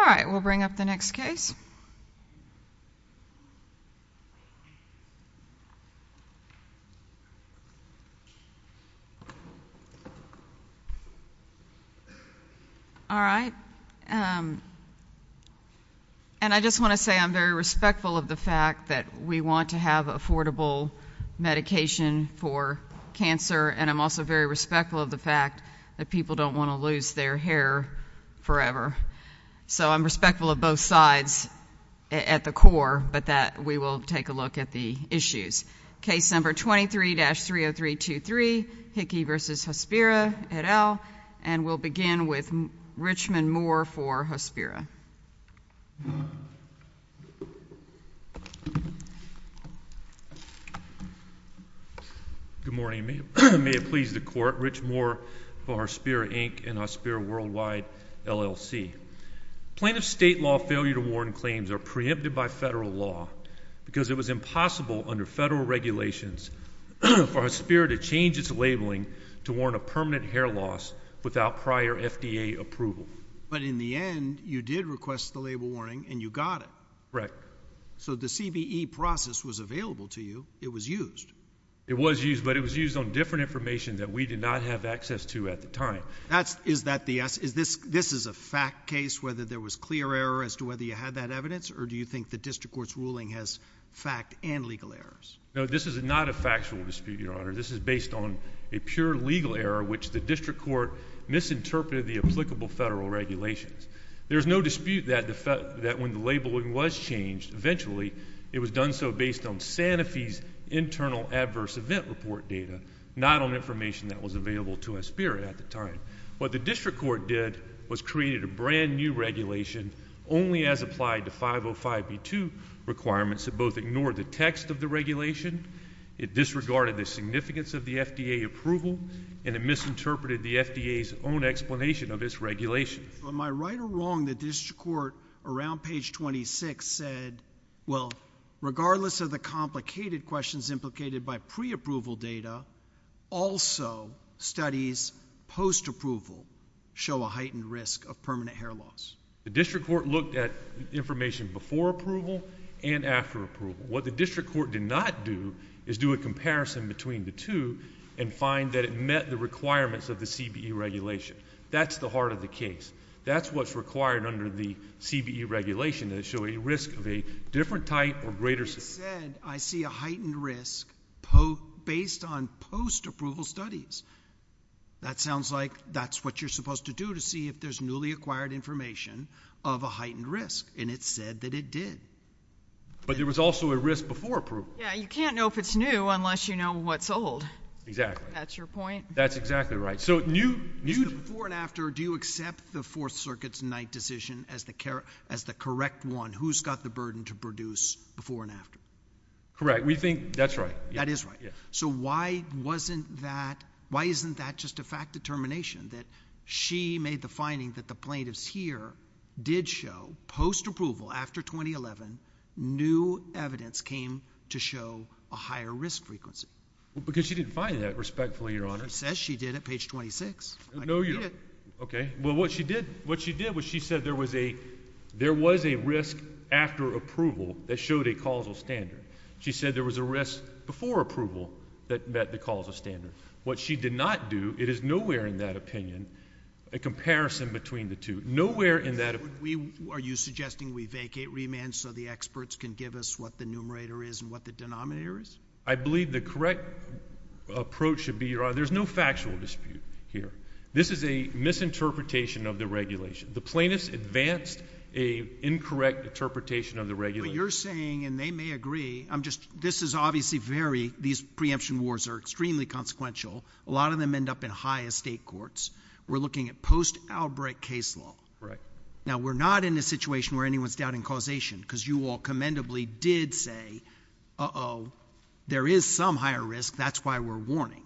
Alright, we'll bring up the next case. Alright, and I just want to say I'm very respectful of the fact that we want to have affordable medication for cancer and I'm also very respectful of the fact that people don't want to lose their hair forever. So I'm respectful of both sides at the core, but that we will take a look at the issues. Case number 23-30323, Hickey v. Hospira, et al. And we'll begin with Richmond Moore for Hospira. Good morning, may it please the court. Richmond Moore for Hospira, Inc. and Hospira Worldwide, LLC. Plaintiff state law failure to warn claims are preempted by federal law because it was impossible under federal regulations for Hospira to change its labeling to warn of permanent hair loss without prior FDA approval. But in the end, you did request the label warning and you got it. Correct. So the CBE process was available to you. It was used. It was used, but it was used on different information that we did not have access to at the time. That's, is that the, this is a fact case, whether there was clear error as to whether you had that evidence or do you think the district court's ruling has fact and legal errors? No, this is not a factual dispute, Your Honor. This is based on a pure legal error which the district court misinterpreted the applicable federal regulations. It's based on Santa Fe's internal adverse event report data, not on information that was available to us spirit at the time. What the district court did was created a brand new regulation only as applied to 505B2 requirements that both ignore the text of the regulation. It disregarded the significance of the FDA approval and it misinterpreted the FDA's own explanation of this regulation. Am I right or wrong that the district court around page 26 said, well, regardless of the complicated questions implicated by pre-approval data, also studies post-approval show a heightened risk of permanent hair loss? The district court looked at information before approval and after approval. What the district court did not do is do a comparison between the two and find that it met the requirements of the CBE regulation. That's the heart of the case. That's what's required under the CBE regulation to show a risk of a different type or greater significance. It said I see a heightened risk based on post-approval studies. That sounds like that's what you're supposed to do to see if there's newly acquired information of a heightened risk, and it said that it did. But there was also a risk before approval. Yeah, you can't know if it's new unless you know what's old. Exactly. That's your point? That's exactly right. Before and after, do you accept the Fourth Circuit's Knight decision as the correct one, who's got the burden to produce before and after? Correct. We think that's right. That is right. So why wasn't that, why isn't that just a fact determination that she made the finding that the plaintiffs here did show post-approval after 2011, new evidence came to show a higher risk frequency? Well, because she didn't find that, respectfully, Your Honor. But it says she did at page 26. No, Your Honor. I can read it. Okay. Well, what she did, what she did was she said there was a risk after approval that showed a causal standard. She said there was a risk before approval that met the causal standard. What she did not do, it is nowhere in that opinion, a comparison between the two, nowhere in that opinion. Are you suggesting we vacate remand so the experts can give us what the numerator is and what the denominator is? I believe the correct approach should be, Your Honor. There's no factual dispute here. This is a misinterpretation of the regulation. The plaintiffs advanced a incorrect interpretation of the regulation. But you're saying, and they may agree, I'm just, this is obviously very, these preemption wars are extremely consequential. A lot of them end up in high estate courts. We're looking at post-Albrecht case law. Right. Now, we're not in a situation where anyone's doubting causation, because you all commendably did say, uh-oh, there is some higher risk. That's why we're warning.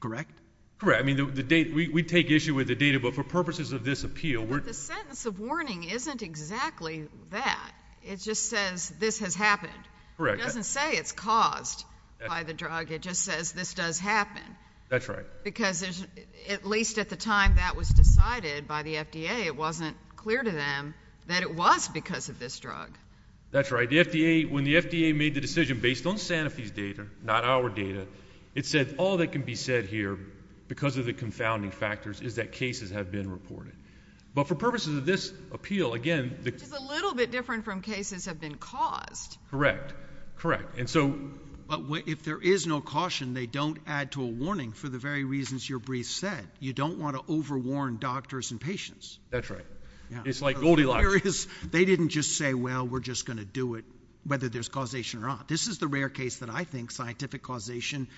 Correct? Correct. I mean, the data, we take issue with the data, but for purposes of this appeal, we're But the sentence of warning isn't exactly that. It just says this has happened. Correct. It doesn't say it's caused by the drug. It just says this does happen. That's right. Because at least at the time that was decided by the FDA, it wasn't clear to them that it was because of this drug. That's right. The FDA, when the FDA made the decision based on Sanofi's data, not our data, it said all that can be said here because of the confounding factors is that cases have been reported. But for purposes of this appeal, again, Which is a little bit different from cases have been caused. Correct. Correct. And so But if there is no caution, they don't add to a warning for the very reasons your brief said. You don't want to overwarn doctors and patients. That's right. It's like Goldilocks. They didn't just say, well, we're just going to do it whether there's causation or not. This is the rare case that I think scientific causation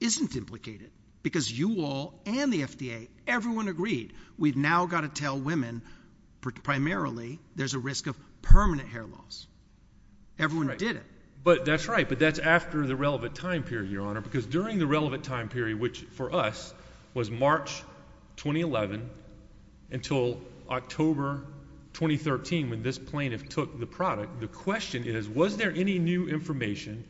isn't implicated because you all and the FDA, everyone agreed we've now got to tell women primarily there's a risk of permanent hair loss. Everyone did it. But that's right. But that's after the relevant time period, Your Honor, because during the relevant time period, which for us was March 2011 until October 2013, when this plaintiff took the product. The question is, was there any new information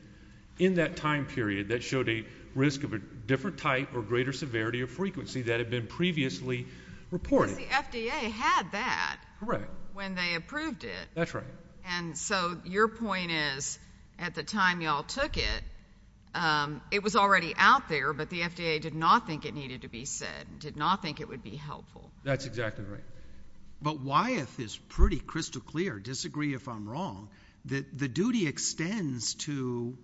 in that time period that showed a risk of a different type or greater severity of frequency that had been previously reported? The FDA had that. Correct. When they approved it. That's right. And so your point is at the time y'all took it, it was already out there. But the FDA did not think it needed to be said, did not think it would be helpful. That's exactly right. But Wyeth is pretty crystal clear, disagree if I'm wrong, that the duty extends to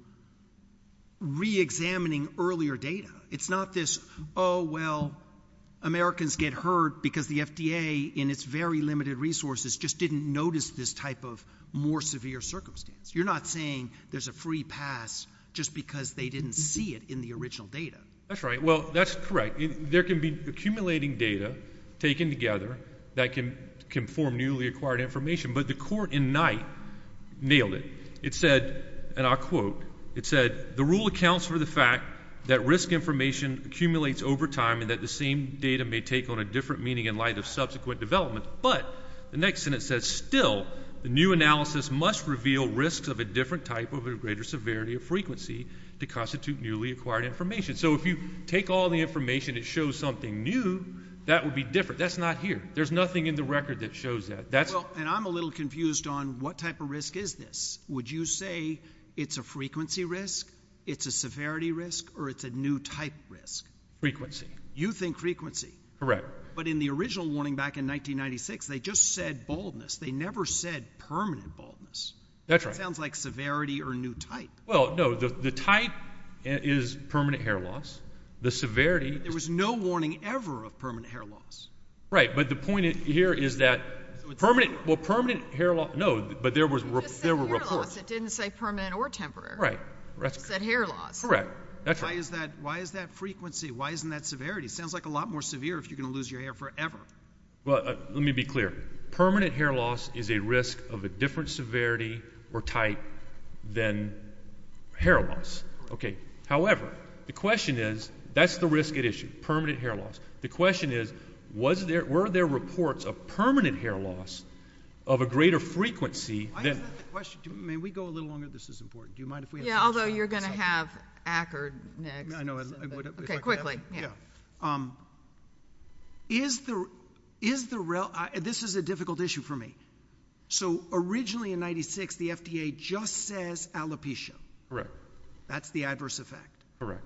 reexamining earlier data. It's not this, oh, well, Americans get hurt because the FDA in its very limited resources just didn't notice this type of more severe circumstance. You're not saying there's a free pass just because they didn't see it in the original data. That's right. Well, that's correct. There can be accumulating data taken together that can form newly acquired information. But the court in Knight nailed it. It said, and I'll quote, it said, the rule accounts for the fact that risk information accumulates over time and that the same data may take on a different meaning in light of subsequent development. But the next sentence says, still, the new analysis must reveal risks of a different type of a greater severity of frequency to constitute newly acquired information. So if you take all the information that shows something new, that would be different. That's not here. There's nothing in the record that shows that. And I'm a little confused on what type of risk is this? Would you say it's a frequency risk, it's a severity risk, or it's a new type risk? Frequency. You think frequency? Correct. But in the original warning back in 1996, they just said baldness. They never said permanent baldness. That's right. It sounds like severity or new type. Well, no. The type is permanent hair loss. The severity. There was no warning ever of permanent hair loss. Right. But the point here is that permanent, well, permanent hair loss, no. But there were reports. It just said hair loss. It didn't say permanent or temporary. Right. It just said hair loss. Correct. That's right. Why is that frequency? Why isn't that severity? It sounds like a lot more severe if you're going to lose your hair forever. Well, let me be clear. Permanent hair loss is a risk of a different severity or type than hair loss. Okay. However, the question is, that's the risk at issue. Permanent hair loss. The question is, were there reports of permanent hair loss of a greater frequency than... Why isn't that the question? May we go a little longer? This is important. Do you mind if we have some time? Yeah. Although, you're going to have Ackard next. I know. Okay. Quickly. Yeah. This is a difficult issue for me. Originally, in 96, the FDA just says alopecia. Correct. That's the adverse effect. Correct.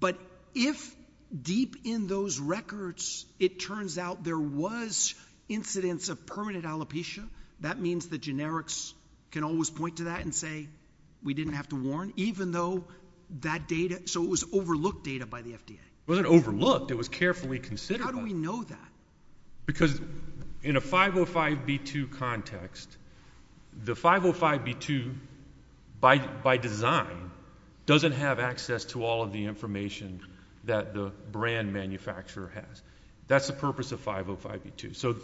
But if deep in those records, it turns out there was incidents of permanent alopecia, that means the generics can always point to that and say, we didn't have to warn, even though that data, so it was overlooked data by the FDA. It wasn't overlooked. It was carefully considered. How do we know that? Because in a 505B2 context, the 505B2, by design, doesn't have access to all of the information that the brand manufacturer has. That's the purpose of 505B2. So,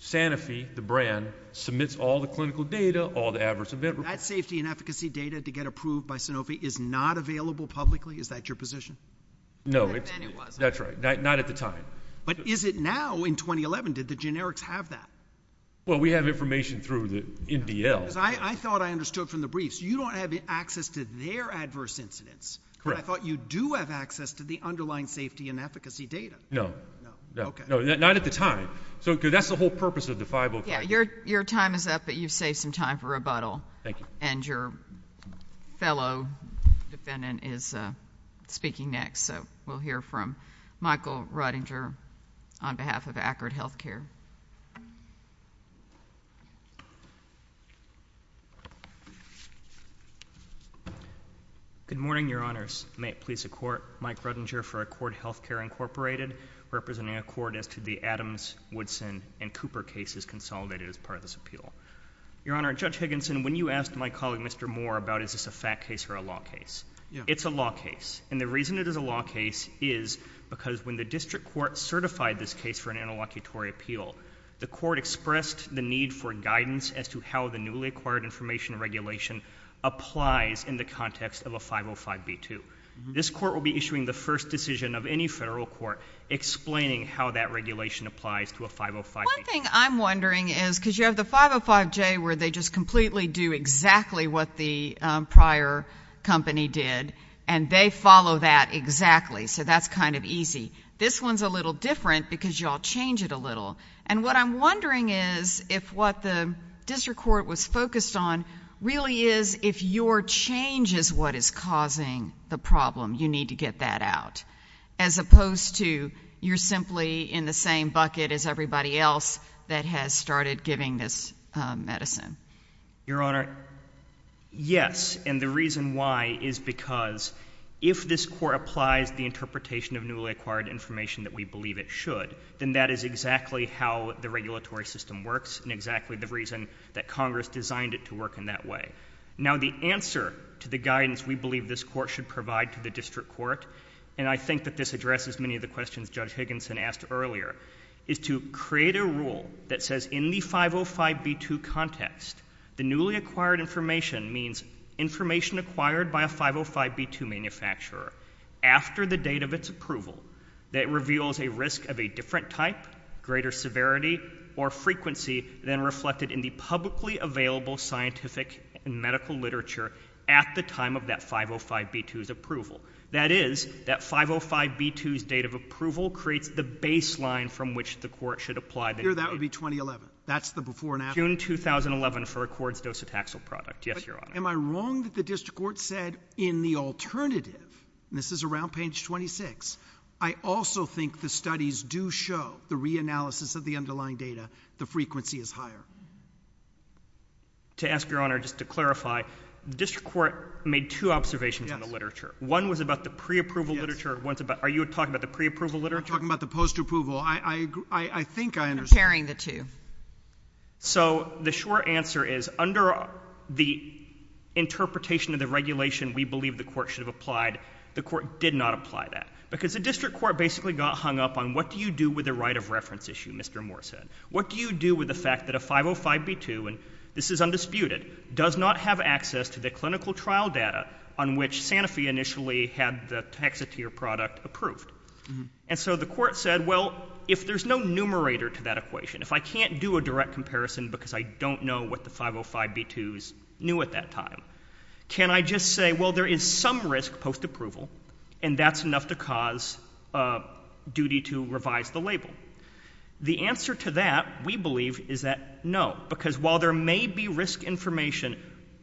Sanofi, the brand, submits all the clinical data, all the adverse events. That safety and efficacy data to get approved by Sanofi is not available publicly? Is that your position? No. Then it wasn't. That's right. Not at the time. But is it now in 2011? Did the generics have that? Well, we have information through the MDL. I thought I understood from the briefs, you don't have access to their adverse incidents. Correct. But I thought you do have access to the underlying safety and efficacy data. No. No. Okay. Not at the time. Because that's the whole purpose of the 505B2. Yeah. Your time is up, but you've saved some time for rebuttal. Thank you. And your fellow defendant is speaking next. So, we'll hear from Michael Ruttinger on behalf of Ackard Healthcare. Good morning, Your Honors. May it please the Court, Mike Ruttinger for Ackard Healthcare, Incorporated, representing Ackard as to the Adams, Woodson, and Cooper cases consolidated as part of this appeal. Your Honor, Judge Higginson, when you asked my colleague, Mr. Moore, about is this a fact case or a law case, it's a law case. And the reason it is a law case is because when the district court certified this case for an interlocutory appeal, the court expressed the need for guidance as to how the newly acquired information regulation applies in the context of a 505B2. This court will be issuing the first decision of any federal court explaining how that regulation applies to a 505B2. One thing I'm wondering is, because you have the 505J where they just completely do exactly what the prior company did, and they follow that exactly. So, that's kind of easy. This one's a little different because you all change it a little. And what I'm wondering is if what the district court was focused on really is if your change is what is causing the problem. You need to get that out. As opposed to you're simply in the same bucket as everybody else that has started giving this medicine. Your Honor, yes. And the reason why is because if this court applies the interpretation of newly acquired information that we believe it should, then that is exactly how the regulatory system works and exactly the reason that Congress designed it to work in that way. Now, the answer to the guidance we believe this court should provide to the district court, and I think that this addresses many of the questions Judge Higginson asked earlier, is to create a rule that says in the 505B2 context, the newly acquired information means information acquired by a 505B2 manufacturer after the date of its approval that reveals a risk of a different type, greater severity, or frequency than reflected in the publicly available scientific and medical literature at the time of that 505B2's approval. That is, that 505B2's date of approval creates the baseline from which the court should apply the data. Your Honor, that would be 2011. That's the before and after. June 2011 for Accord's docetaxel product, yes, Your Honor. Am I wrong that the district court said in the alternative, and this is around page 26, I also think the studies do show the reanalysis of the underlying data, the frequency is higher? To ask, Your Honor, just to clarify, the district court made two observations in the literature. One was about the preapproval literature. Are you talking about the preapproval literature? I'm talking about the postapproval. I think I understand. I'm comparing the two. So the short answer is under the interpretation of the regulation we believe the court should have applied, the court did not apply that, because the district court basically got hung up on what do you do with a right of reference issue, Mr. Moore said. What do you do with the fact that a 505B2, and this is undisputed, does not have access to the clinical trial data on which Sanofi initially had the Hexatier product approved? And so the court said, well, if there's no numerator to that equation, if I can't do a direct comparison because I don't know what the 505B2s knew at that time, can I just say, well, there is some risk postapproval, and that's enough to cause duty to revise the label? The answer to that, we believe, is that no. Because while there may be risk information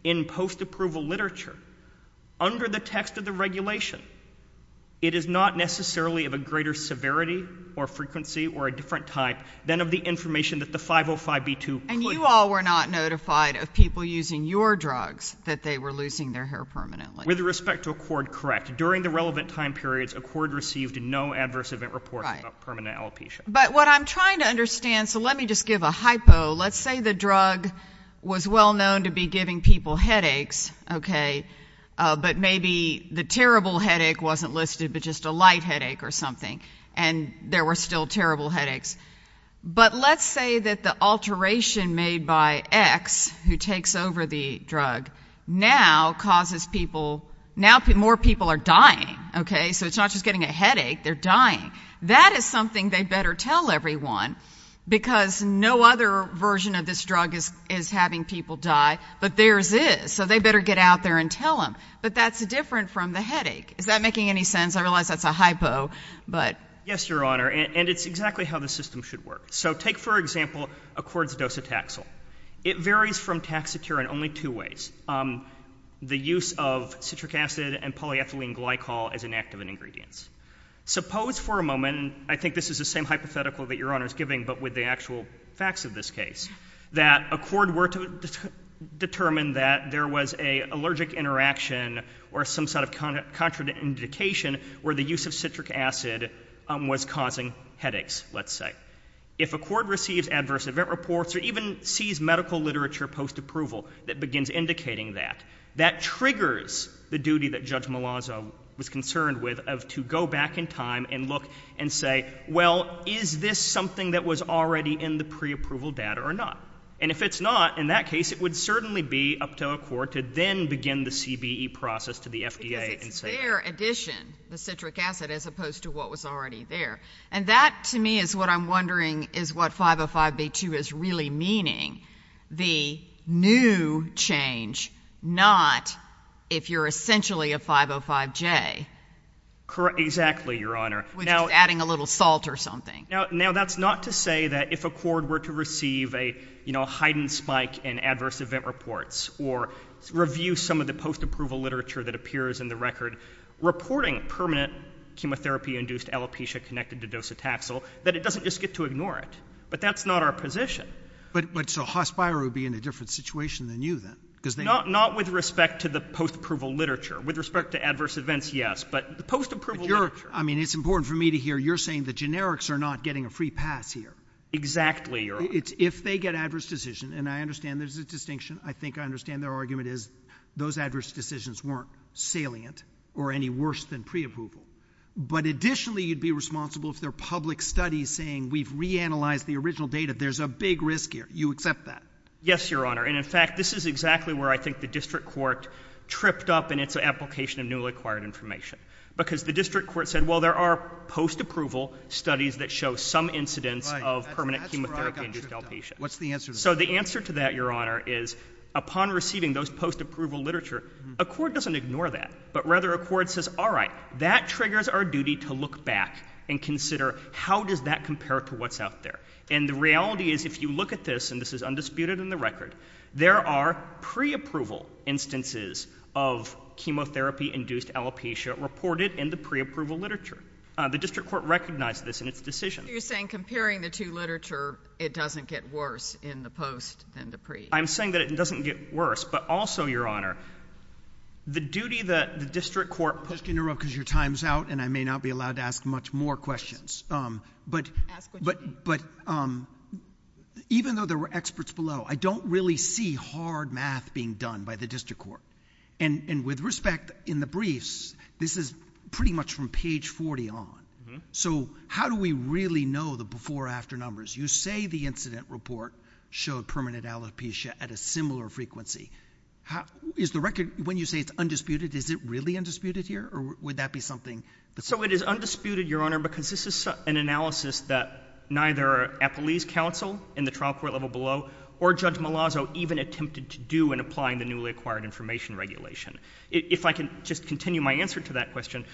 in postapproval literature, under the text of the regulation, it is not necessarily of a greater severity or frequency or a different type than of the information that the 505B2. And you all were not notified of people using your drugs that they were losing their hair permanently? With respect to Accord, correct. During the relevant time periods, Accord received no adverse event But what I'm trying to understand, so let me just give a hypo. Let's say the drug was well known to be giving people headaches, but maybe the terrible headache wasn't listed, but just a light headache or something. And there were still terrible headaches. But let's say that the alteration made by X, who takes over the drug, now causes people, now more people are dying. So it's not just getting a headache, they're dying. That is something they better tell everyone because no other version of this drug is having people die, but theirs is. So they better get out there and tell them. But that's different from the headache. Is that making any sense? I realize that's a hypo, but... Yes, Your Honor. And it's exactly how the system should work. So take, for example, Accord's docetaxel. It varies from Taxotere in only two ways. The use of citric acid and polyethylene glycol as an active ingredient. Suppose for a moment, and I think this is the same hypothetical that Your Honor is giving, but with the actual facts of this case, that Accord were to determine that there was an allergic interaction or some sort of contraindication where the use of citric acid was causing headaches, let's say. If Accord receives adverse event reports or even sees medical literature post-approval that begins indicating that, that triggers the duty that Judge Malazzo was concerned with to go back in time and look and say, well, is this something that was already in the pre-approval data or not? And if it's not, in that case, it would certainly be up to Accord to then begin the CBE process to the FDA and say... Because it's their addition, the citric acid, as opposed to what was already there. And that, to me, is what I'm wondering is what 505B2 is really meaning. The new change, not if you're essentially a 505J, Correct. Exactly, Your Honor. Which is adding a little salt or something. Now, that's not to say that if Accord were to receive a heightened spike in adverse event reports or review some of the post-approval literature that appears in the record reporting permanent chemotherapy-induced alopecia connected to docetaxel, that it doesn't just get to ignore it. But that's not our position. But so Hospiro would be in a different situation than you, then? Not with respect to the post-approval literature. With respect to adverse events, yes. But the post-approval literature... I mean, it's important for me to hear you're saying the generics are not getting a free pass here. Exactly, Your Honor. If they get adverse decision, and I understand there's a distinction, I think I understand their argument is those adverse decisions weren't salient or any worse than pre-approval. But additionally, you'd be responsible if there are public studies saying we've reanalyzed the original data, there's a big risk here. You accept that? Yes, Your Honor. And in fact, this is exactly where I think the district court tripped up in its application of newly acquired information. Because the district court said, well, there are post-approval studies that show some incidence of permanent chemotherapy in gestalt patients. So the answer to that, Your Honor, is upon receiving those post-approval literature, a court doesn't ignore that, but rather a court says, all right, that triggers our duty to look back and consider how does that compare to what's out there? And the reality is, if you look at this, and this is undisputed in the record, there are pre-approval instances of chemotherapy-induced alopecia reported in the pre-approval literature. The district court recognized this in its decision. So you're saying, comparing the two literature, it doesn't get worse in the post than the pre? I'm saying that it doesn't get worse, but also, Your Honor, the duty that the district court put... Just in a row because your time's out and I may not be allowed to ask much more questions. But... Ask what you want. But, um, even though there were experts below, I don't really see hard math being done by the district court. And with respect, in the briefs, this is pretty much from page 40 on. So, how do we really know the before-after numbers? You say the incident report showed permanent alopecia at a similar frequency. Is the record, when you say it's undisputed, is it really undisputed here? Or would that be something... So it is undisputed, Your Honor, because this is an analysis that either a police counsel in the trial court level below, or Judge Malazzo even attempted to do in applying the newly acquired information regulation. If I can just continue my answer to that question,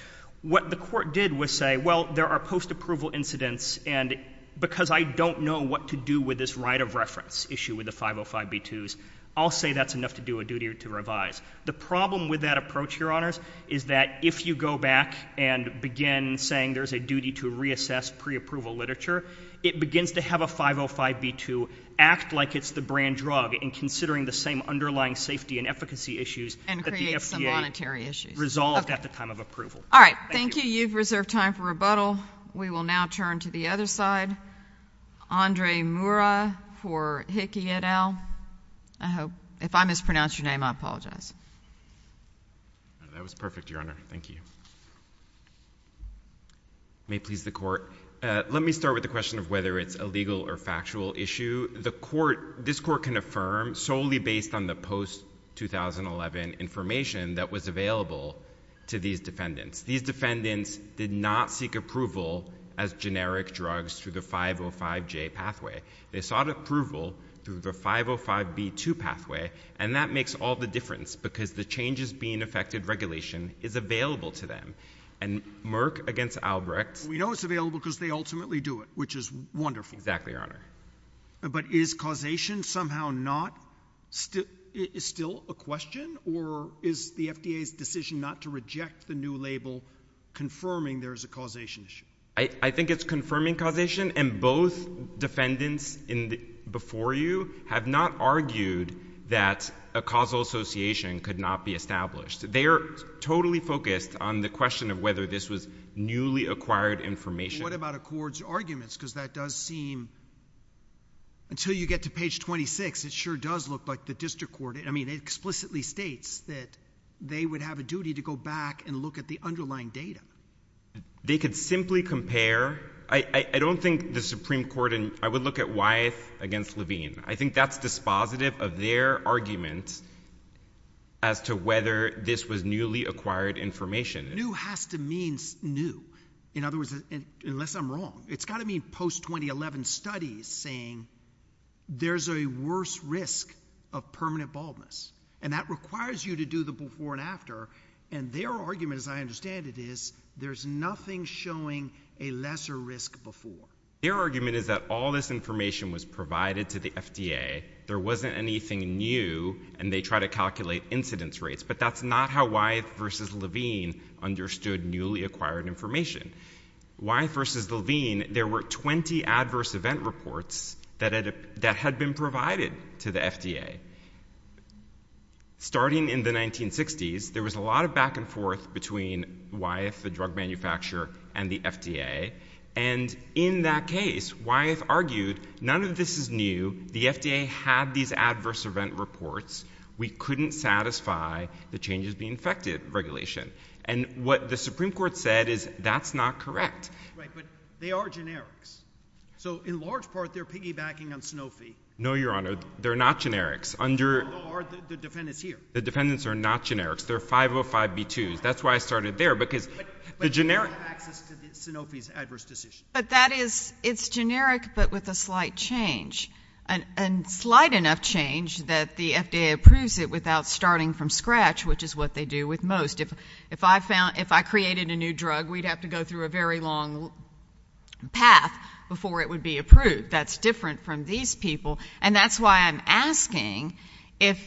what the court did was say, well, there are post-approval incidents and because I don't know what to do with this right of reference issue with the 505B2s, I'll say that's enough to do a duty to revise. The problem with that approach, Your Honors, is that if you go back and begin saying there's a duty to it begins to have a 505B2 act like it's the brand drug in considering the same underlying safety and efficacy issues that the FDA resolved at the time of approval. All right. Thank you. You've reserved time for rebuttal. We will now turn to the other side. Andre Moura for Hickey et al. If I mispronounce your name, I apologize. That was perfect, Your Honor. Thank you. May it please the Court. I'm not sure whether it's a legal or factual issue. This Court can affirm solely based on the post-2011 information that was available to these defendants. These defendants did not seek approval as generic drugs through the 505J pathway. They sought approval through the 505B2 pathway and that makes all the difference because the changes being affected regulation is available to them. And Merck against Albrecht. We know it's available because they ultimately do it, which is wonderful. Exactly, Your Honor. But is causation somehow not still a question or is the FDA's decision not to reject the new label confirming there is a causation issue? I think it's confirming causation and both defendants before you have not argued that a claim has been established. They're totally focused on the question of whether this was newly acquired information. What about Accord's arguments because that does seem until you get to page 26 it sure does look like the District Court, I mean it explicitly states that they would have a duty to go back and look at the underlying data. They could simply compare. I don't think the Supreme Court, I would look at Wyeth against Levine. I think that's dispositive of their argument as to whether this was newly acquired information. New has to mean new. In other words, unless I'm wrong, it's got to mean post-2011 studies saying there's a worse risk of permanent baldness and that requires you to do the before and after and their argument as I understand it is there's nothing showing a lesser risk before. Their argument is that all this information was provided to the FDA. There wasn't anything new and they try to calculate incidence rates but that's not how Wyeth versus Levine understood newly acquired information. Wyeth versus Levine, there were 20 adverse event reports that had been provided to the FDA. Starting in the 1960s, there was a lot of back and forth between Wyeth, the drug manufacturer and the FDA and in that case, Wyeth argued none of this is new. The FDA had these adverse event reports. We couldn't satisfy the changes being affected regulation and what the Supreme Court said is that's not correct. Right, but they are generics. So in large part, they're piggybacking on Sanofi. No, Your Honor. They're not generics. The defendants are not generics. They're 505B2s. That's why I started there because the generic access to Sanofi's adverse decisions. But that is, it's generic but with a slight change. A slight enough change that the FDA approves it without starting from scratch which is what they do with most. If I created a new drug, we'd have to go through a very long path before it would be approved. That's different from these people and that's why I'm asking if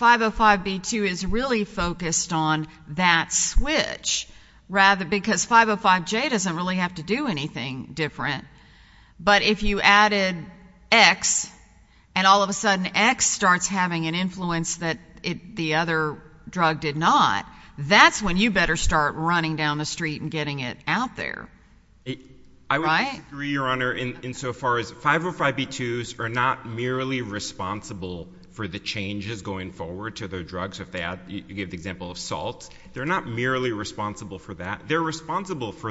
505B2 is really focused on that switch rather because 505J doesn't really have to do anything different. But if you added X and all of a sudden X starts having an influence that the other drug did not that's when you better start running down the street and getting it out there. I would disagree, Your Honor, in so far as 505B2s are not merely responsible for the changes going forward to their drugs. You gave the example of salt. They're not responsible for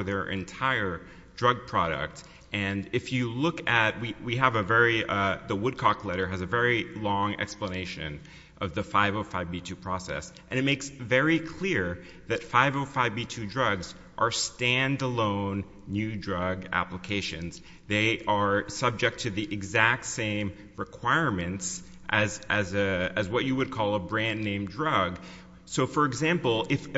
their entire drug product and if you look at, we have a very the Woodcock letter has a very long explanation of the 505B2 process and it makes very clear that 505B2 drugs are stand alone new drug applications. They are subject to the exact same requirements as what you would call a brand name drug. For example, if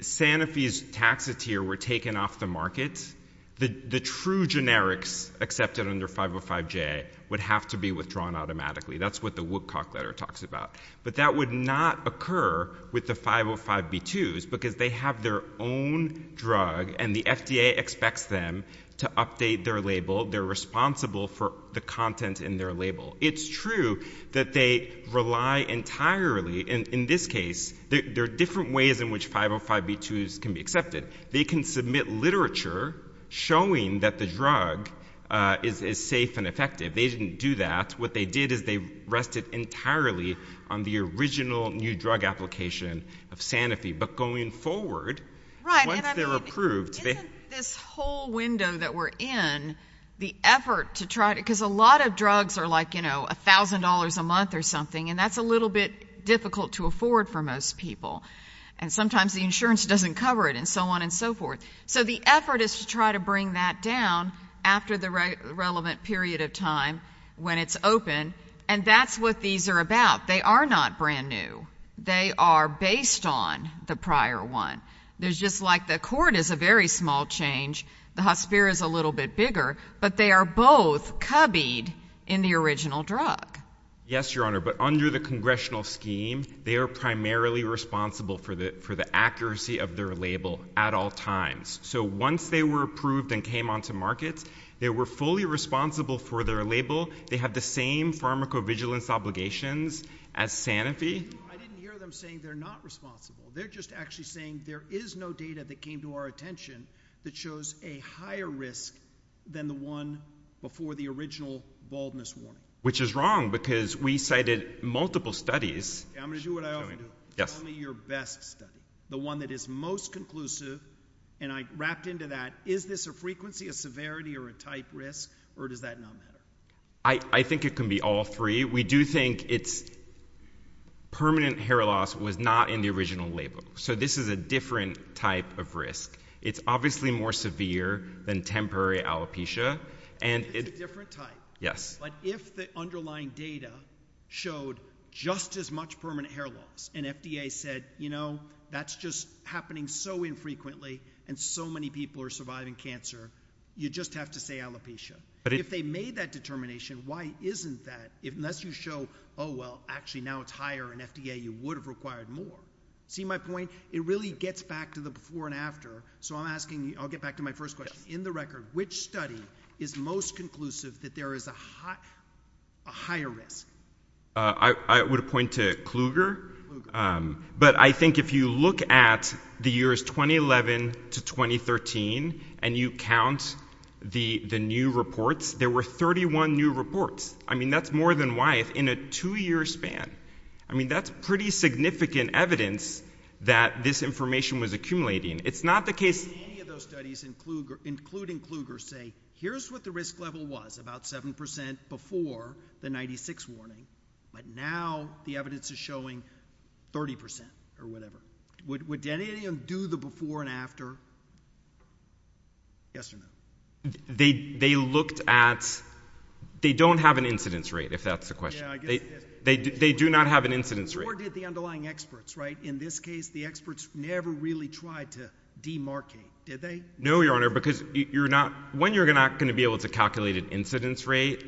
Sanofi's Taxotere were taken off the market, the true generics accepted under 505J would have to be withdrawn automatically. That's what the Woodcock letter talks about. But that would not occur with the 505B2s because they have their own drug and the FDA expects them to update their label. They're responsible for the content in their label. It's true that they rely entirely, in this case there are different ways in which 505B2s can be accepted. They can submit literature showing that the drug is safe and effective. They didn't do that. What they did is they rested entirely on the original new drug application of Sanofi. But going forward, once they're approved. Isn't this whole window that we're in the effort to try to because a lot of drugs are like, you know, $1,000 a month or something and that's a little bit difficult to afford for most people. And sometimes the insurance doesn't cover it and so on and so forth. So the effort is to try to bring that down after the relevant period of time when it's open. And that's what these are about. They are not brand new. They are based on the prior one. There's just like the cord is a very small change. The hospire is a little bit bigger. But they are both cubbied in the original drug. Yes, Your Honor, but under the congressional scheme, they are primarily responsible for the accuracy of their label at all times. So once they were approved and came onto markets, they were fully responsible for their label. They have the same pharmacovigilance obligations as Sanofi. I didn't hear them saying they're not responsible. They're just actually saying there is no data that came to our attention that shows a higher risk than the one before the original baldness warning. Which is wrong because we cited multiple studies. I'm going to do what I always do. Tell me your best study. The one that is most conclusive. And I wrapped into that, is this a frequency, a severity, or a type risk? Or does that not matter? I think it can be all three. We do think it's permanent hair loss was not in the original label. So this is a different type of risk. It's obviously more severe than temporary alopecia. It's a different type. But if the underlying data showed just as much permanent hair loss, and FDA said you know, that's just happening so infrequently, and so many people are surviving cancer, you just have to say alopecia. If they made that determination, why isn't that, unless you show, oh well actually now it's higher in FDA, you would have required more. See my point? It really gets back to the before and after. So I'm asking, I'll get back to my first question. In the record, which study is most conclusive that there is a higher risk? I would point to Kluger. But I think if you look at the years 2011 to 2013, and you count the new reports, there were 31 new reports. I mean that's more than Wyeth in a two year span. I mean that's pretty significant evidence that this information was accumulating. It's pretty significant. So you're saying, including Kluger, say here's what the risk level was, about 7% before the 96 warning, but now the evidence is showing 30% or whatever. Would Denny and him do the before and after? Yes or no? They looked at, they don't have an incidence rate, if that's the question. They do not have an incidence rate. Nor did the underlying experts, right? In this case, the experts never really tried to demarcate, did they? No, Your Honor, because when you're not going to be able to calculate an incidence rate,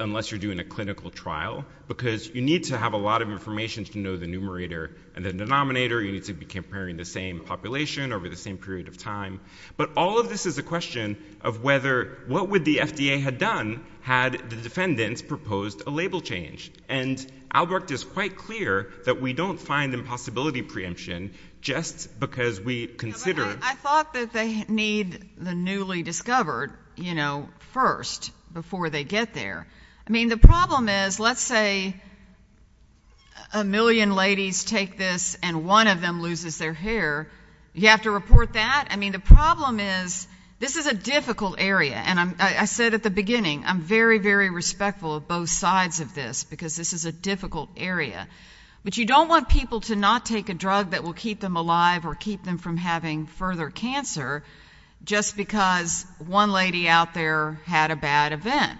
unless you're doing a clinical trial, because you need to have a lot of information to know the numerator and the denominator. You need to be comparing the same population over the same period of time. But all of this is a question of whether, what would the FDA have done had the defendants proposed a label change? And Albrecht is quite clear that we don't find impossibility preemption just because we consider... I thought that they need the newly discovered first, before they get there. I mean, the problem is, let's say a million ladies take this and one of them loses their hair, you have to report that? I mean, the problem is, this is a difficult area, and I said at the beginning, I'm very, very respectful of both sides of this, because this is a difficult area. But you don't want people to not take a drug that will keep them alive or keep them from having further cancer, just because one lady out there had a bad event.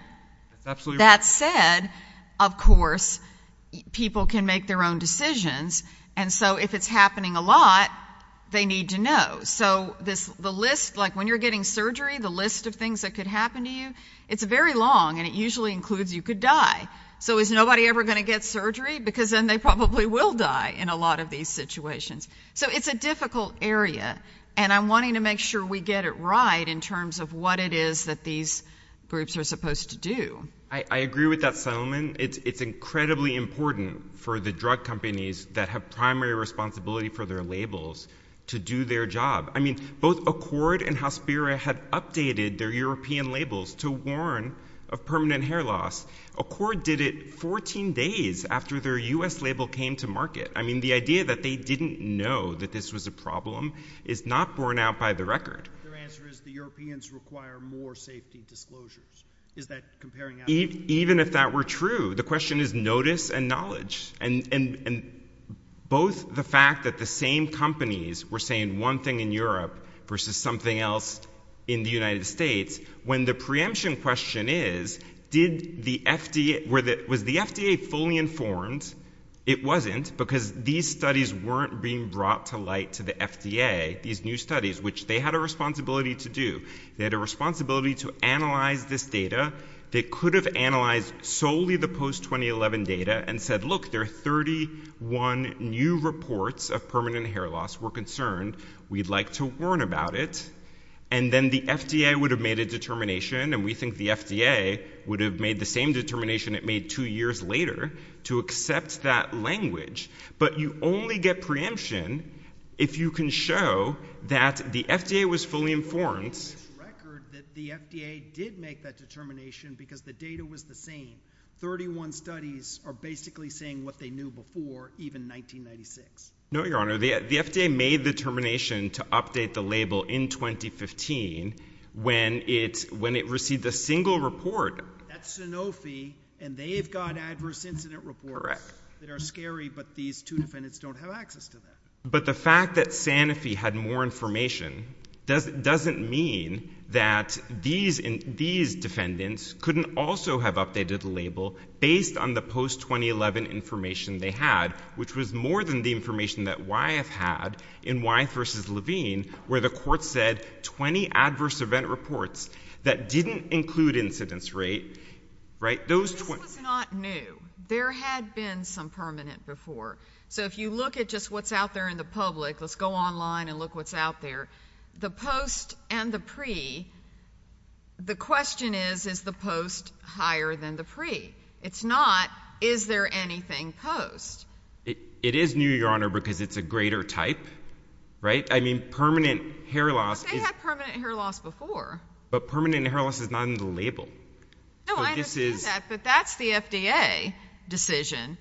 That said, of course, people can make their own decisions, and so if it's happening a lot, they need to know. So, the list, like when you're getting surgery, the list of things that could happen to you, it's very long, and it usually includes you could die. So is nobody ever going to get surgery? Because then they probably will die in a lot of these situations. So it's a difficult area, and I'm wanting to make sure we get it right in terms of what it is that these groups are supposed to do. I agree with that settlement. It's incredibly important for the drug companies that have primary responsibility for their labels to do their job. I mean, both Accord and Hospira have updated their European labels to warn of permanent hair loss. Accord did it 14 days after their U.S. label came to market. I mean, the idea that they didn't know that this was a problem is not borne out by the record. Their answer is the Europeans require more safety disclosures. Even if that were true, and both the fact that the same companies were saying one thing in Europe versus something else in the United States, when the preemption question is, was the FDA fully informed? It wasn't because these studies weren't being brought to light to the FDA, these new studies, which they had a responsibility to do. They had a responsibility to analyze this data. They could have analyzed solely the post-2011 data and said, look, there are 31 new reports of permanent hair loss. We're concerned. We'd like to warn about it. And then the FDA would have made a determination, and we think the FDA would have made the same determination it made two years later to accept that language. But you only get preemption if you can show that the FDA was fully informed. The FDA did make that determination because the data was the same. 31 studies are basically saying what they knew before, even in 1996. No, Your Honor. The FDA made the determination to update the label in 2015 when it received a single report. That's Sanofi, and they've got adverse incident reports that are scary, but these two defendants don't have access to them. But the fact that Sanofi had more information doesn't mean that these defendants couldn't also have updated the label based on the post-2011 information they had, which was more than the information that Wyeth had in Wyeth v. Levine, where the court said 20 adverse event reports that didn't include incidence rate. This was not new. There had been some permanent before. So if you look at just what's out there in the public, let's go online and look what's out there. The post and the pre, the question is, is the post higher than the pre? It's not, is there anything post? It is new, Your Honor, because it's a greater type. Right? I mean, permanent hair loss. But they had permanent hair loss before. But permanent hair loss is not in the label. No, I understand that, but that's the FDA decision,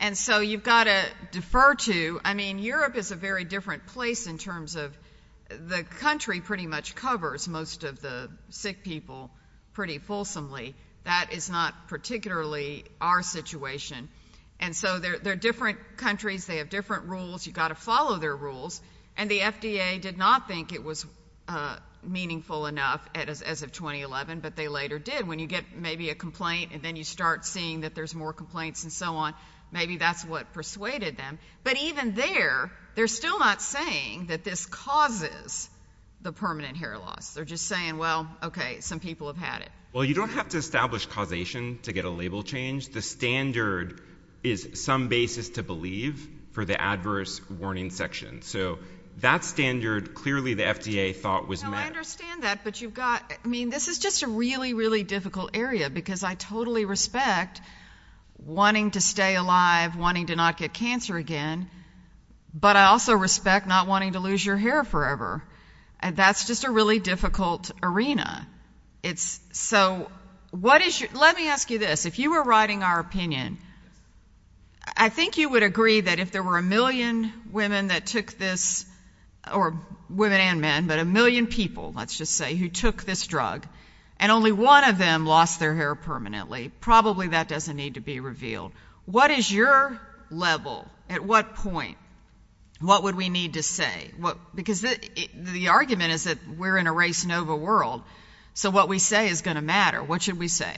and so you've got to defer to, I mean, Europe is a very different place in terms of the country pretty much covers most of the sick people pretty fulsomely. That is not particularly our situation. And so they're different countries. They have different rules. You've got to follow their rules. And the FDA did not think it was meaningful enough as of 2011, but they later did. When you get maybe a complaint, and then you start seeing that there's more complaints and so on, maybe that's what persuaded them. But even there, they're still not saying that this causes the permanent hair loss. They're just saying, well, okay, some people have had it. Well, you don't have to establish causation to get a label change. The standard is some basis to believe for the adverse warning section. So that standard, clearly the FDA thought was met. I understand that, but you've got, I mean, this is just a really, really difficult area because I totally respect wanting to stay alive, wanting to not get cancer again, but I also respect not wanting to lose your hair forever. And that's just a really difficult arena. It's, so, what is your, let me ask you this. If you were writing our opinion, I think you would agree that if there were a million women that took this, or women and men, but a million people, let's just say, who took this drug, and only one of them lost their hair permanently, probably that doesn't need to be revealed. What is your level? At what point? What would we need to say? Because the argument is that we're in a race-nova world, so what we say is going to matter. What should we say?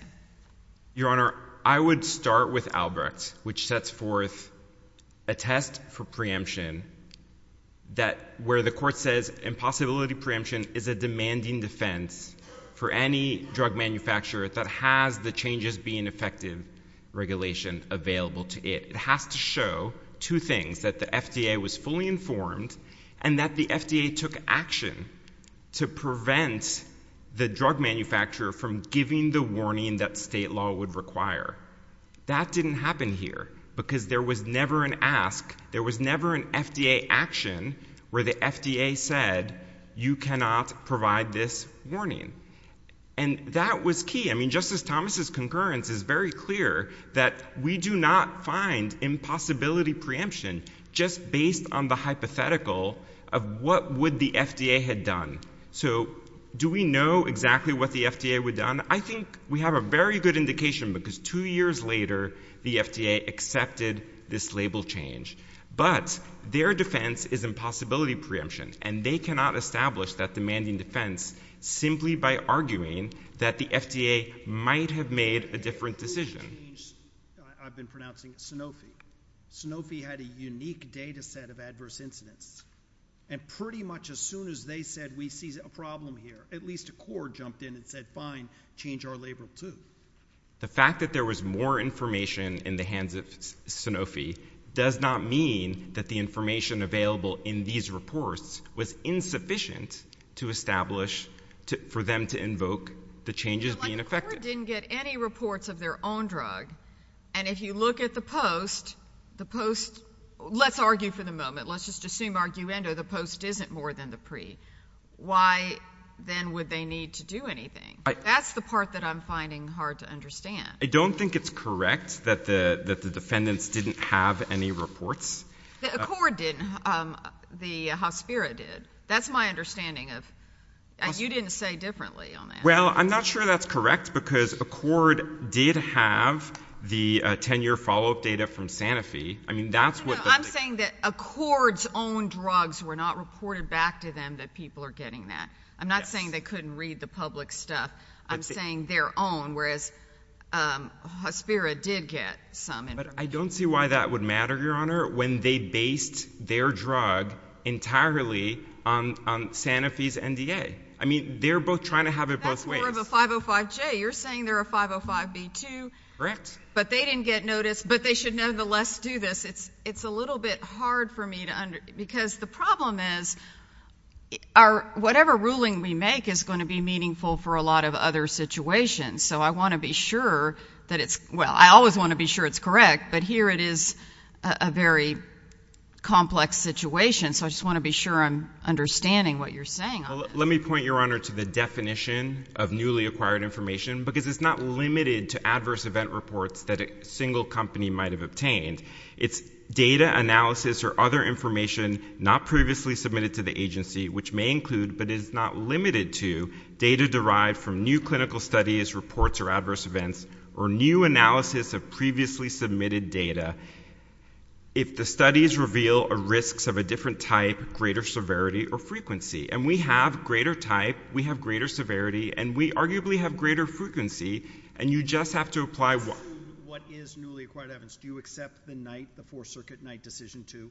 Your Honor, I would start with Albrecht, which sets forth a test for preemption that, where the court says impossibility preemption is a demanding defense for any drug manufacturer that has the changes being effective regulation available to it. It has to show two things, that the FDA took action to prevent the drug manufacturer from giving the warning that state law would require. That didn't happen here, because there was never an ask, there was never an FDA action where the FDA said you cannot provide this warning, and that was key. I mean, Justice Thomas' concurrence is very clear that we do not find impossibility preemption just based on the hypothetical of what would the FDA have done. So, do we know exactly what the FDA would have done? I think we have a very good indication, because two years later, the FDA accepted this label change. But, their defense is impossibility preemption, and they cannot establish that demanding defense simply by arguing that the FDA might have made a different decision. I've been pronouncing Sanofi. Sanofi had a unique data set of adverse incidents, and pretty much as soon as they said we see a problem here, at least a court jumped in and said, fine, change our label too. The fact that there was more information in the hands of Sanofi does not mean that the information available in these reports was insufficient to establish for them to invoke the changes being effected. The court didn't get any reports of their own drug, and if you look at the post, the post, let's argue for the moment, let's just assume the post isn't more than the pre. Why, then, would they need to do anything? That's the part that I'm finding hard to understand. I don't think it's correct that the defendants didn't have any reports. The Accord didn't. The Hospiro did. That's my understanding of and you didn't say differently on that. Well, I'm not sure that's correct, because the 10-year follow-up data from Sanofi, I mean, that's what the I'm saying that Accord's own drugs were not reported back to them that people are getting that. I'm not saying they couldn't read the public stuff. I'm saying their own, whereas Hospiro did get some information. But I don't see why that would matter, Your Honor, when they based their drug entirely on Sanofi's NDA. I mean, they're both trying to have it both ways. That's more of a 505J. You're saying they're a 505B2. Correct. But they didn't get notice, but they should nevertheless do this. It's a little bit hard for me to understand, because the problem is whatever ruling we make is going to be meaningful for a lot of other situations. So I want to be sure that it's, well, I always want to be sure it's correct, but here it is a very complex situation. So I just want to be sure I'm understanding what you're saying on that. Let me point, Your Honor, to the definition of newly acquired information, because it's not limited to adverse event reports that a single company might have obtained. It's data analysis or other information not previously submitted to the agency, which may include, but is not limited to data derived from new clinical studies, reports, or adverse events, or new analysis of previously submitted data. If the studies reveal risks of a different type, greater severity, or frequency, and we have greater severity, and we arguably have greater frequency, and you just have to apply what... What is newly acquired evidence? Do you accept the Fourth Circuit night decision, too?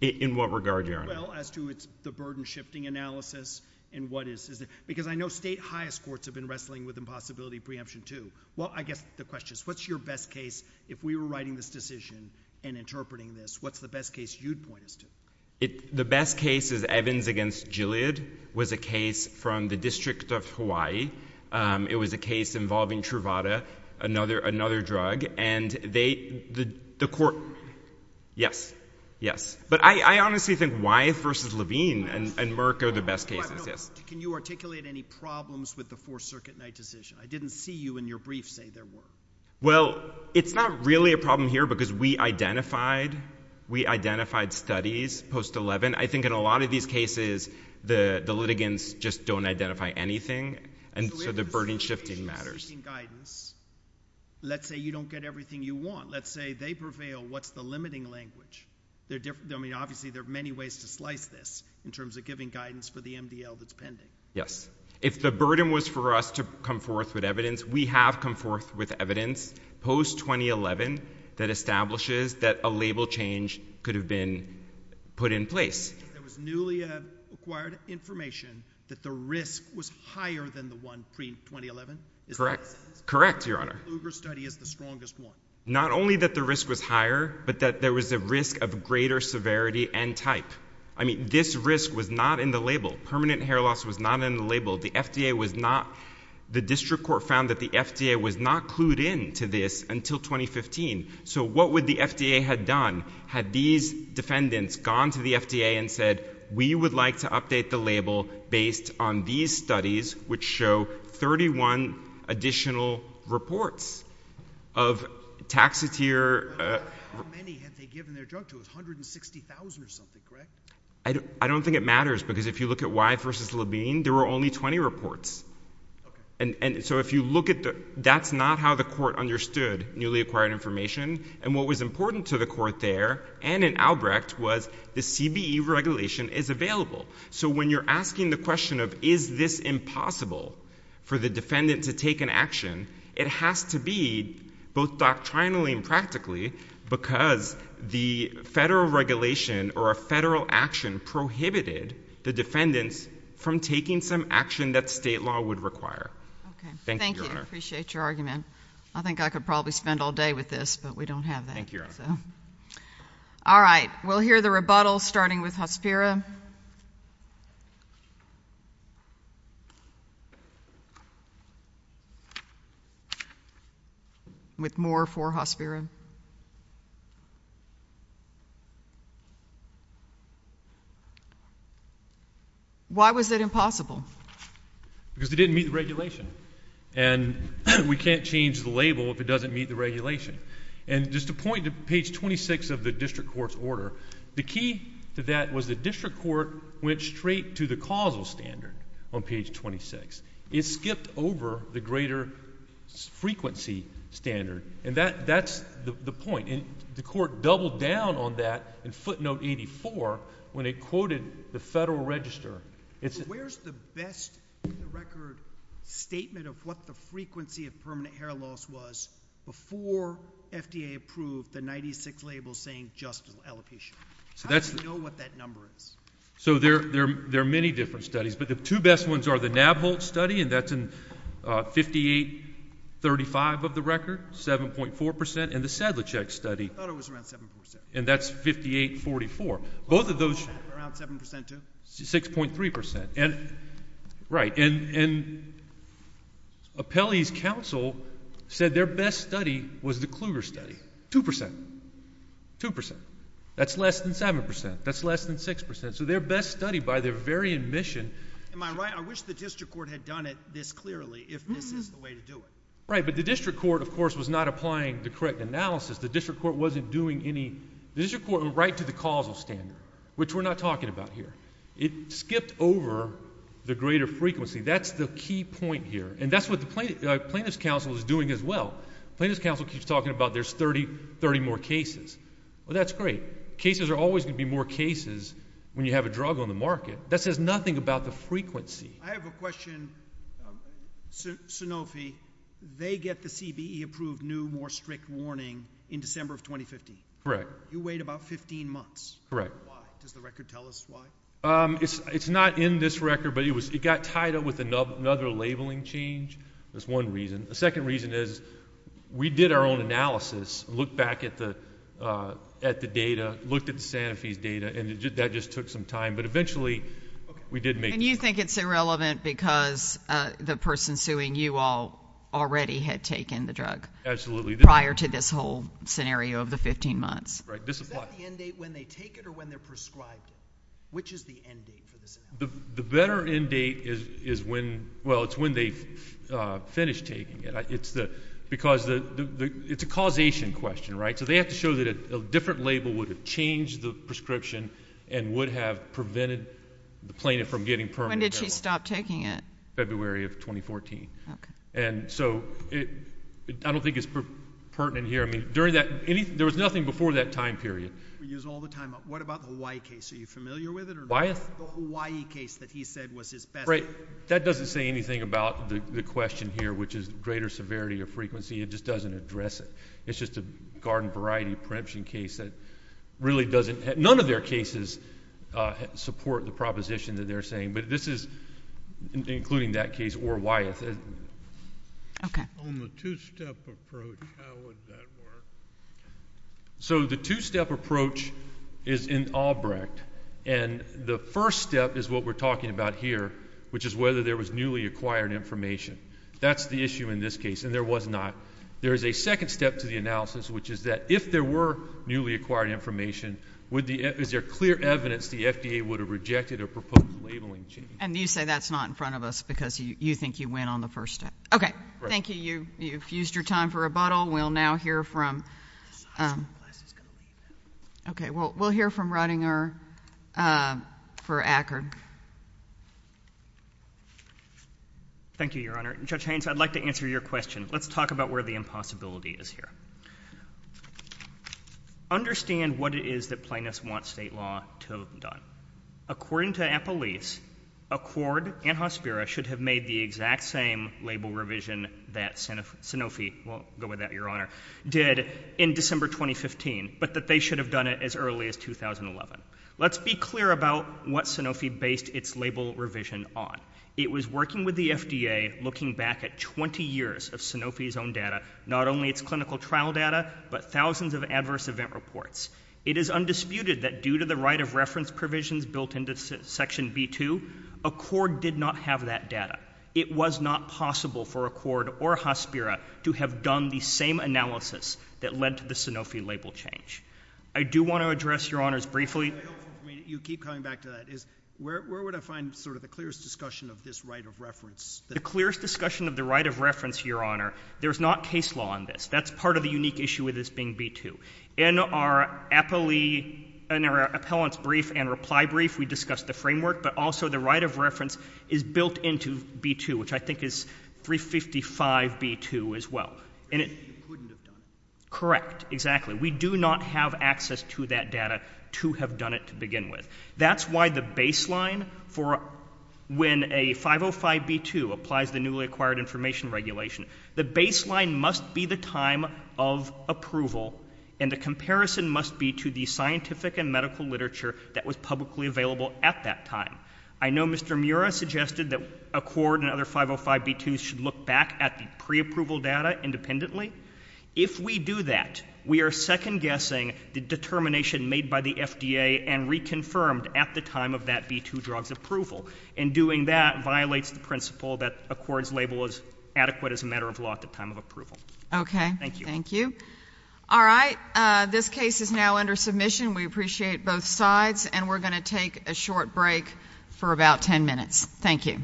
In what regard, Your Honor? Well, as to the burden shifting analysis and what is... Because I know state highest courts have been wrestling with impossibility preemption, too. Well, I guess the question is what's your best case, if we were writing this decision and interpreting this, what's the best case you'd point us to? The best case is Evans against Gilead was a case from the District of Hawaii. It was a case involving Truvada, another drug, and they... The court... Yes. Yes. But I honestly think Wyeth versus Levine and Merck are the best cases, yes. Can you articulate any problems with the Fourth Circuit night decision? I didn't see you in your brief say there were. Well, it's not really a problem here because we identified... We identified studies post-11. I think in a lot of these cases the litigants just don't identify anything, and so the burden shifting matters. So if the litigation is seeking guidance, let's say you don't get everything you want, let's say they prevail, what's the limiting language? Obviously there are many ways to slice this in terms of giving guidance for the MDL that's pending. Yes. If the burden was for us to come forth with evidence, we have come forth with evidence post-2011 that establishes that a label change could have been put in place. There was newly acquired information that the risk was higher than the one pre-2011? Correct. Correct, Your Honor. The Lugar study is the strongest one. Not only that the risk was higher, but that there was a risk of greater severity and type. I mean, this risk was not in the label. Permanent hair loss was not in the label. The FDA was not... The district court found that the FDA was not clued in to this until 2015. So what would the FDA had done? Had these defendants gone to the FDA and said, we would like to update the label based on these studies which show 31 additional reports of taxitier... How many had they given their drug to? It was 160,000 or something, correct? I don't think it matters because if you look at Why v. Labine, there were only 20 reports. And so if you look at the... That's not how the court understood newly acquired information. And what was important to the court there and in Albrecht was the CBE regulation is available. So when you're asking the question of is this impossible for the defendant to take an action, it has to be both doctrinally and practically because the federal regulation or a federal action prohibited the defendants from taking some action that state law would require. Thank you, Your Honor. Thank you. I appreciate your argument. I think I could probably spend all day with this, but we don't have that. Thank you, Your Honor. Alright, we'll hear the rebuttals starting with Hospiro. With more for Hospiro. Why was it impossible? Because it didn't meet the regulation. We can't change the label if it doesn't meet the regulation. And just to point to page 26 of the district court's order, the key to that was the district court went straight to the causal standard on page 26. It skipped over the greater frequency standard. And that's the point. The court doubled down on that in footnote 84 when it quoted the federal register. Where's the best record statement of what the frequency of permanent hair loss was before FDA approved the 96 label saying just allocation? How do you know what that number is? So there are many different studies, but the two best ones are the Nabholt study, and that's in 5835 of the record, 7.4 percent, and the Sedlicek study. I thought it was around 7 percent. And that's 5844. Both of those Around 7 percent too? 6.3 percent. Right. And Apelli's council said their best study was the Kluger study. 2 percent. 2 percent. That's less than 7 percent. That's less than 6 percent. So their best study by their very admission Am I right? I wish the district court had done it this clearly if this is the way to do it. Right, but the district court of course was not applying the correct analysis. The district court wasn't doing any The district court went right to the causal standard, which we're not talking about here. It skipped over the greater frequency. That's the key point here. And that's what the plaintiff's council is doing as well. The plaintiff's council keeps talking about there's 30 more cases. Well that's great. Cases are always going to be more cases when you have a drug on the market. That says nothing about the frequency. I have a question. Sanofi, they get the CBE approved new more strict warning in December of 2015. Correct. You wait about 15 months. Correct. Does the record tell us why? It's not in this record, but it got tied up with another labeling change. That's one reason. The second reason is we did our own analysis, looked back at the data, looked at the Sanofi's data, and that just took some time, but eventually we did make it. And you think it's irrelevant because the person suing you all already had taken the drug. Absolutely. Prior to this whole process. Is that the end date when they take it or when they're prescribed it? Which is the end date? The better end date is when they finish taking it. Because it's a causation question. They have to show that a different label would have changed the prescription and would have prevented the plaintiff from getting permanent. When did she stop taking it? February of 2014. I don't think it's pertinent here. There was nothing before that time period. What about the Hawaii case? Are you familiar with it? The Hawaii case that he said was his best... That doesn't say anything about the question here, which is greater severity or frequency. It just doesn't address it. It's just a garden variety preemption case that really doesn't... None of their cases support the proposition that they're saying, but this is, including that case or Wyeth... On the two-step approach, how would that work? The two-step approach is in Albrecht. The first step is what we're talking about here, which is whether there was newly acquired information. That's the issue in this case, and there was not. There is a second step to the analysis, which is that if there were newly acquired information, is there clear evidence the FDA would have rejected a proposed labeling change? You say that's not in front of us because you think you win on the first step. Okay. Thank you. You've used your time for rebuttal. We'll now hear from... Okay. We'll hear from Ruttinger for Ackerd. Thank you, Your Honor. Judge Haynes, I'd like to answer your question. Let's talk about where the impossibility is here. Understand what it is that plaintiffs want state law to have done. According to Apple Leafs, Ackerd and Hospira should have made the exact same label revision that Sanofi did in December 2015, but that they should have done it as early as 2011. Let's be clear about what Sanofi based its label revision on. It was working with the FDA, looking back at 20 years of Sanofi's own data, not only its clinical trial data, but thousands of adverse event reports. It is undisputed that due to the right of reference provisions built into Section B-2, Ackerd did not have that data. It was not possible for Ackerd or Hospira to have done the same analysis that led to the Sanofi label change. I do want to address, Your Honors, briefly... You keep coming back to that. Where would I find the clearest discussion of this right of reference? The clearest discussion of the right of reference, Your Honor, there's not case law on this. That's part of the unique issue with this being B-2. In our appellant's brief and reply brief, we discussed the framework, but also the right of reference is built into B-2, which I think is 355 B-2 as well. Correct. Exactly. We do not have access to that data to have done it to begin with. That's why the baseline for when a 505 B-2 applies the newly acquired information regulation, the baseline must be the time of approval, and the comparison must be to the scientific and medical literature that was publicly available at that time. I know Mr. Mura suggested that Accord and other 505 B-2s should look back at the pre-approval data independently. If we do that, we are second-guessing the determination made by the FDA and reconfirmed at the time of that B-2 drug's approval, and doing that violates the principle that Accord's label is adequate as a matter of law at the time of approval. Okay. Thank you. All right. This case is now under submission. We appreciate both sides, and we're going to take a short break for about 10 minutes. Thank you.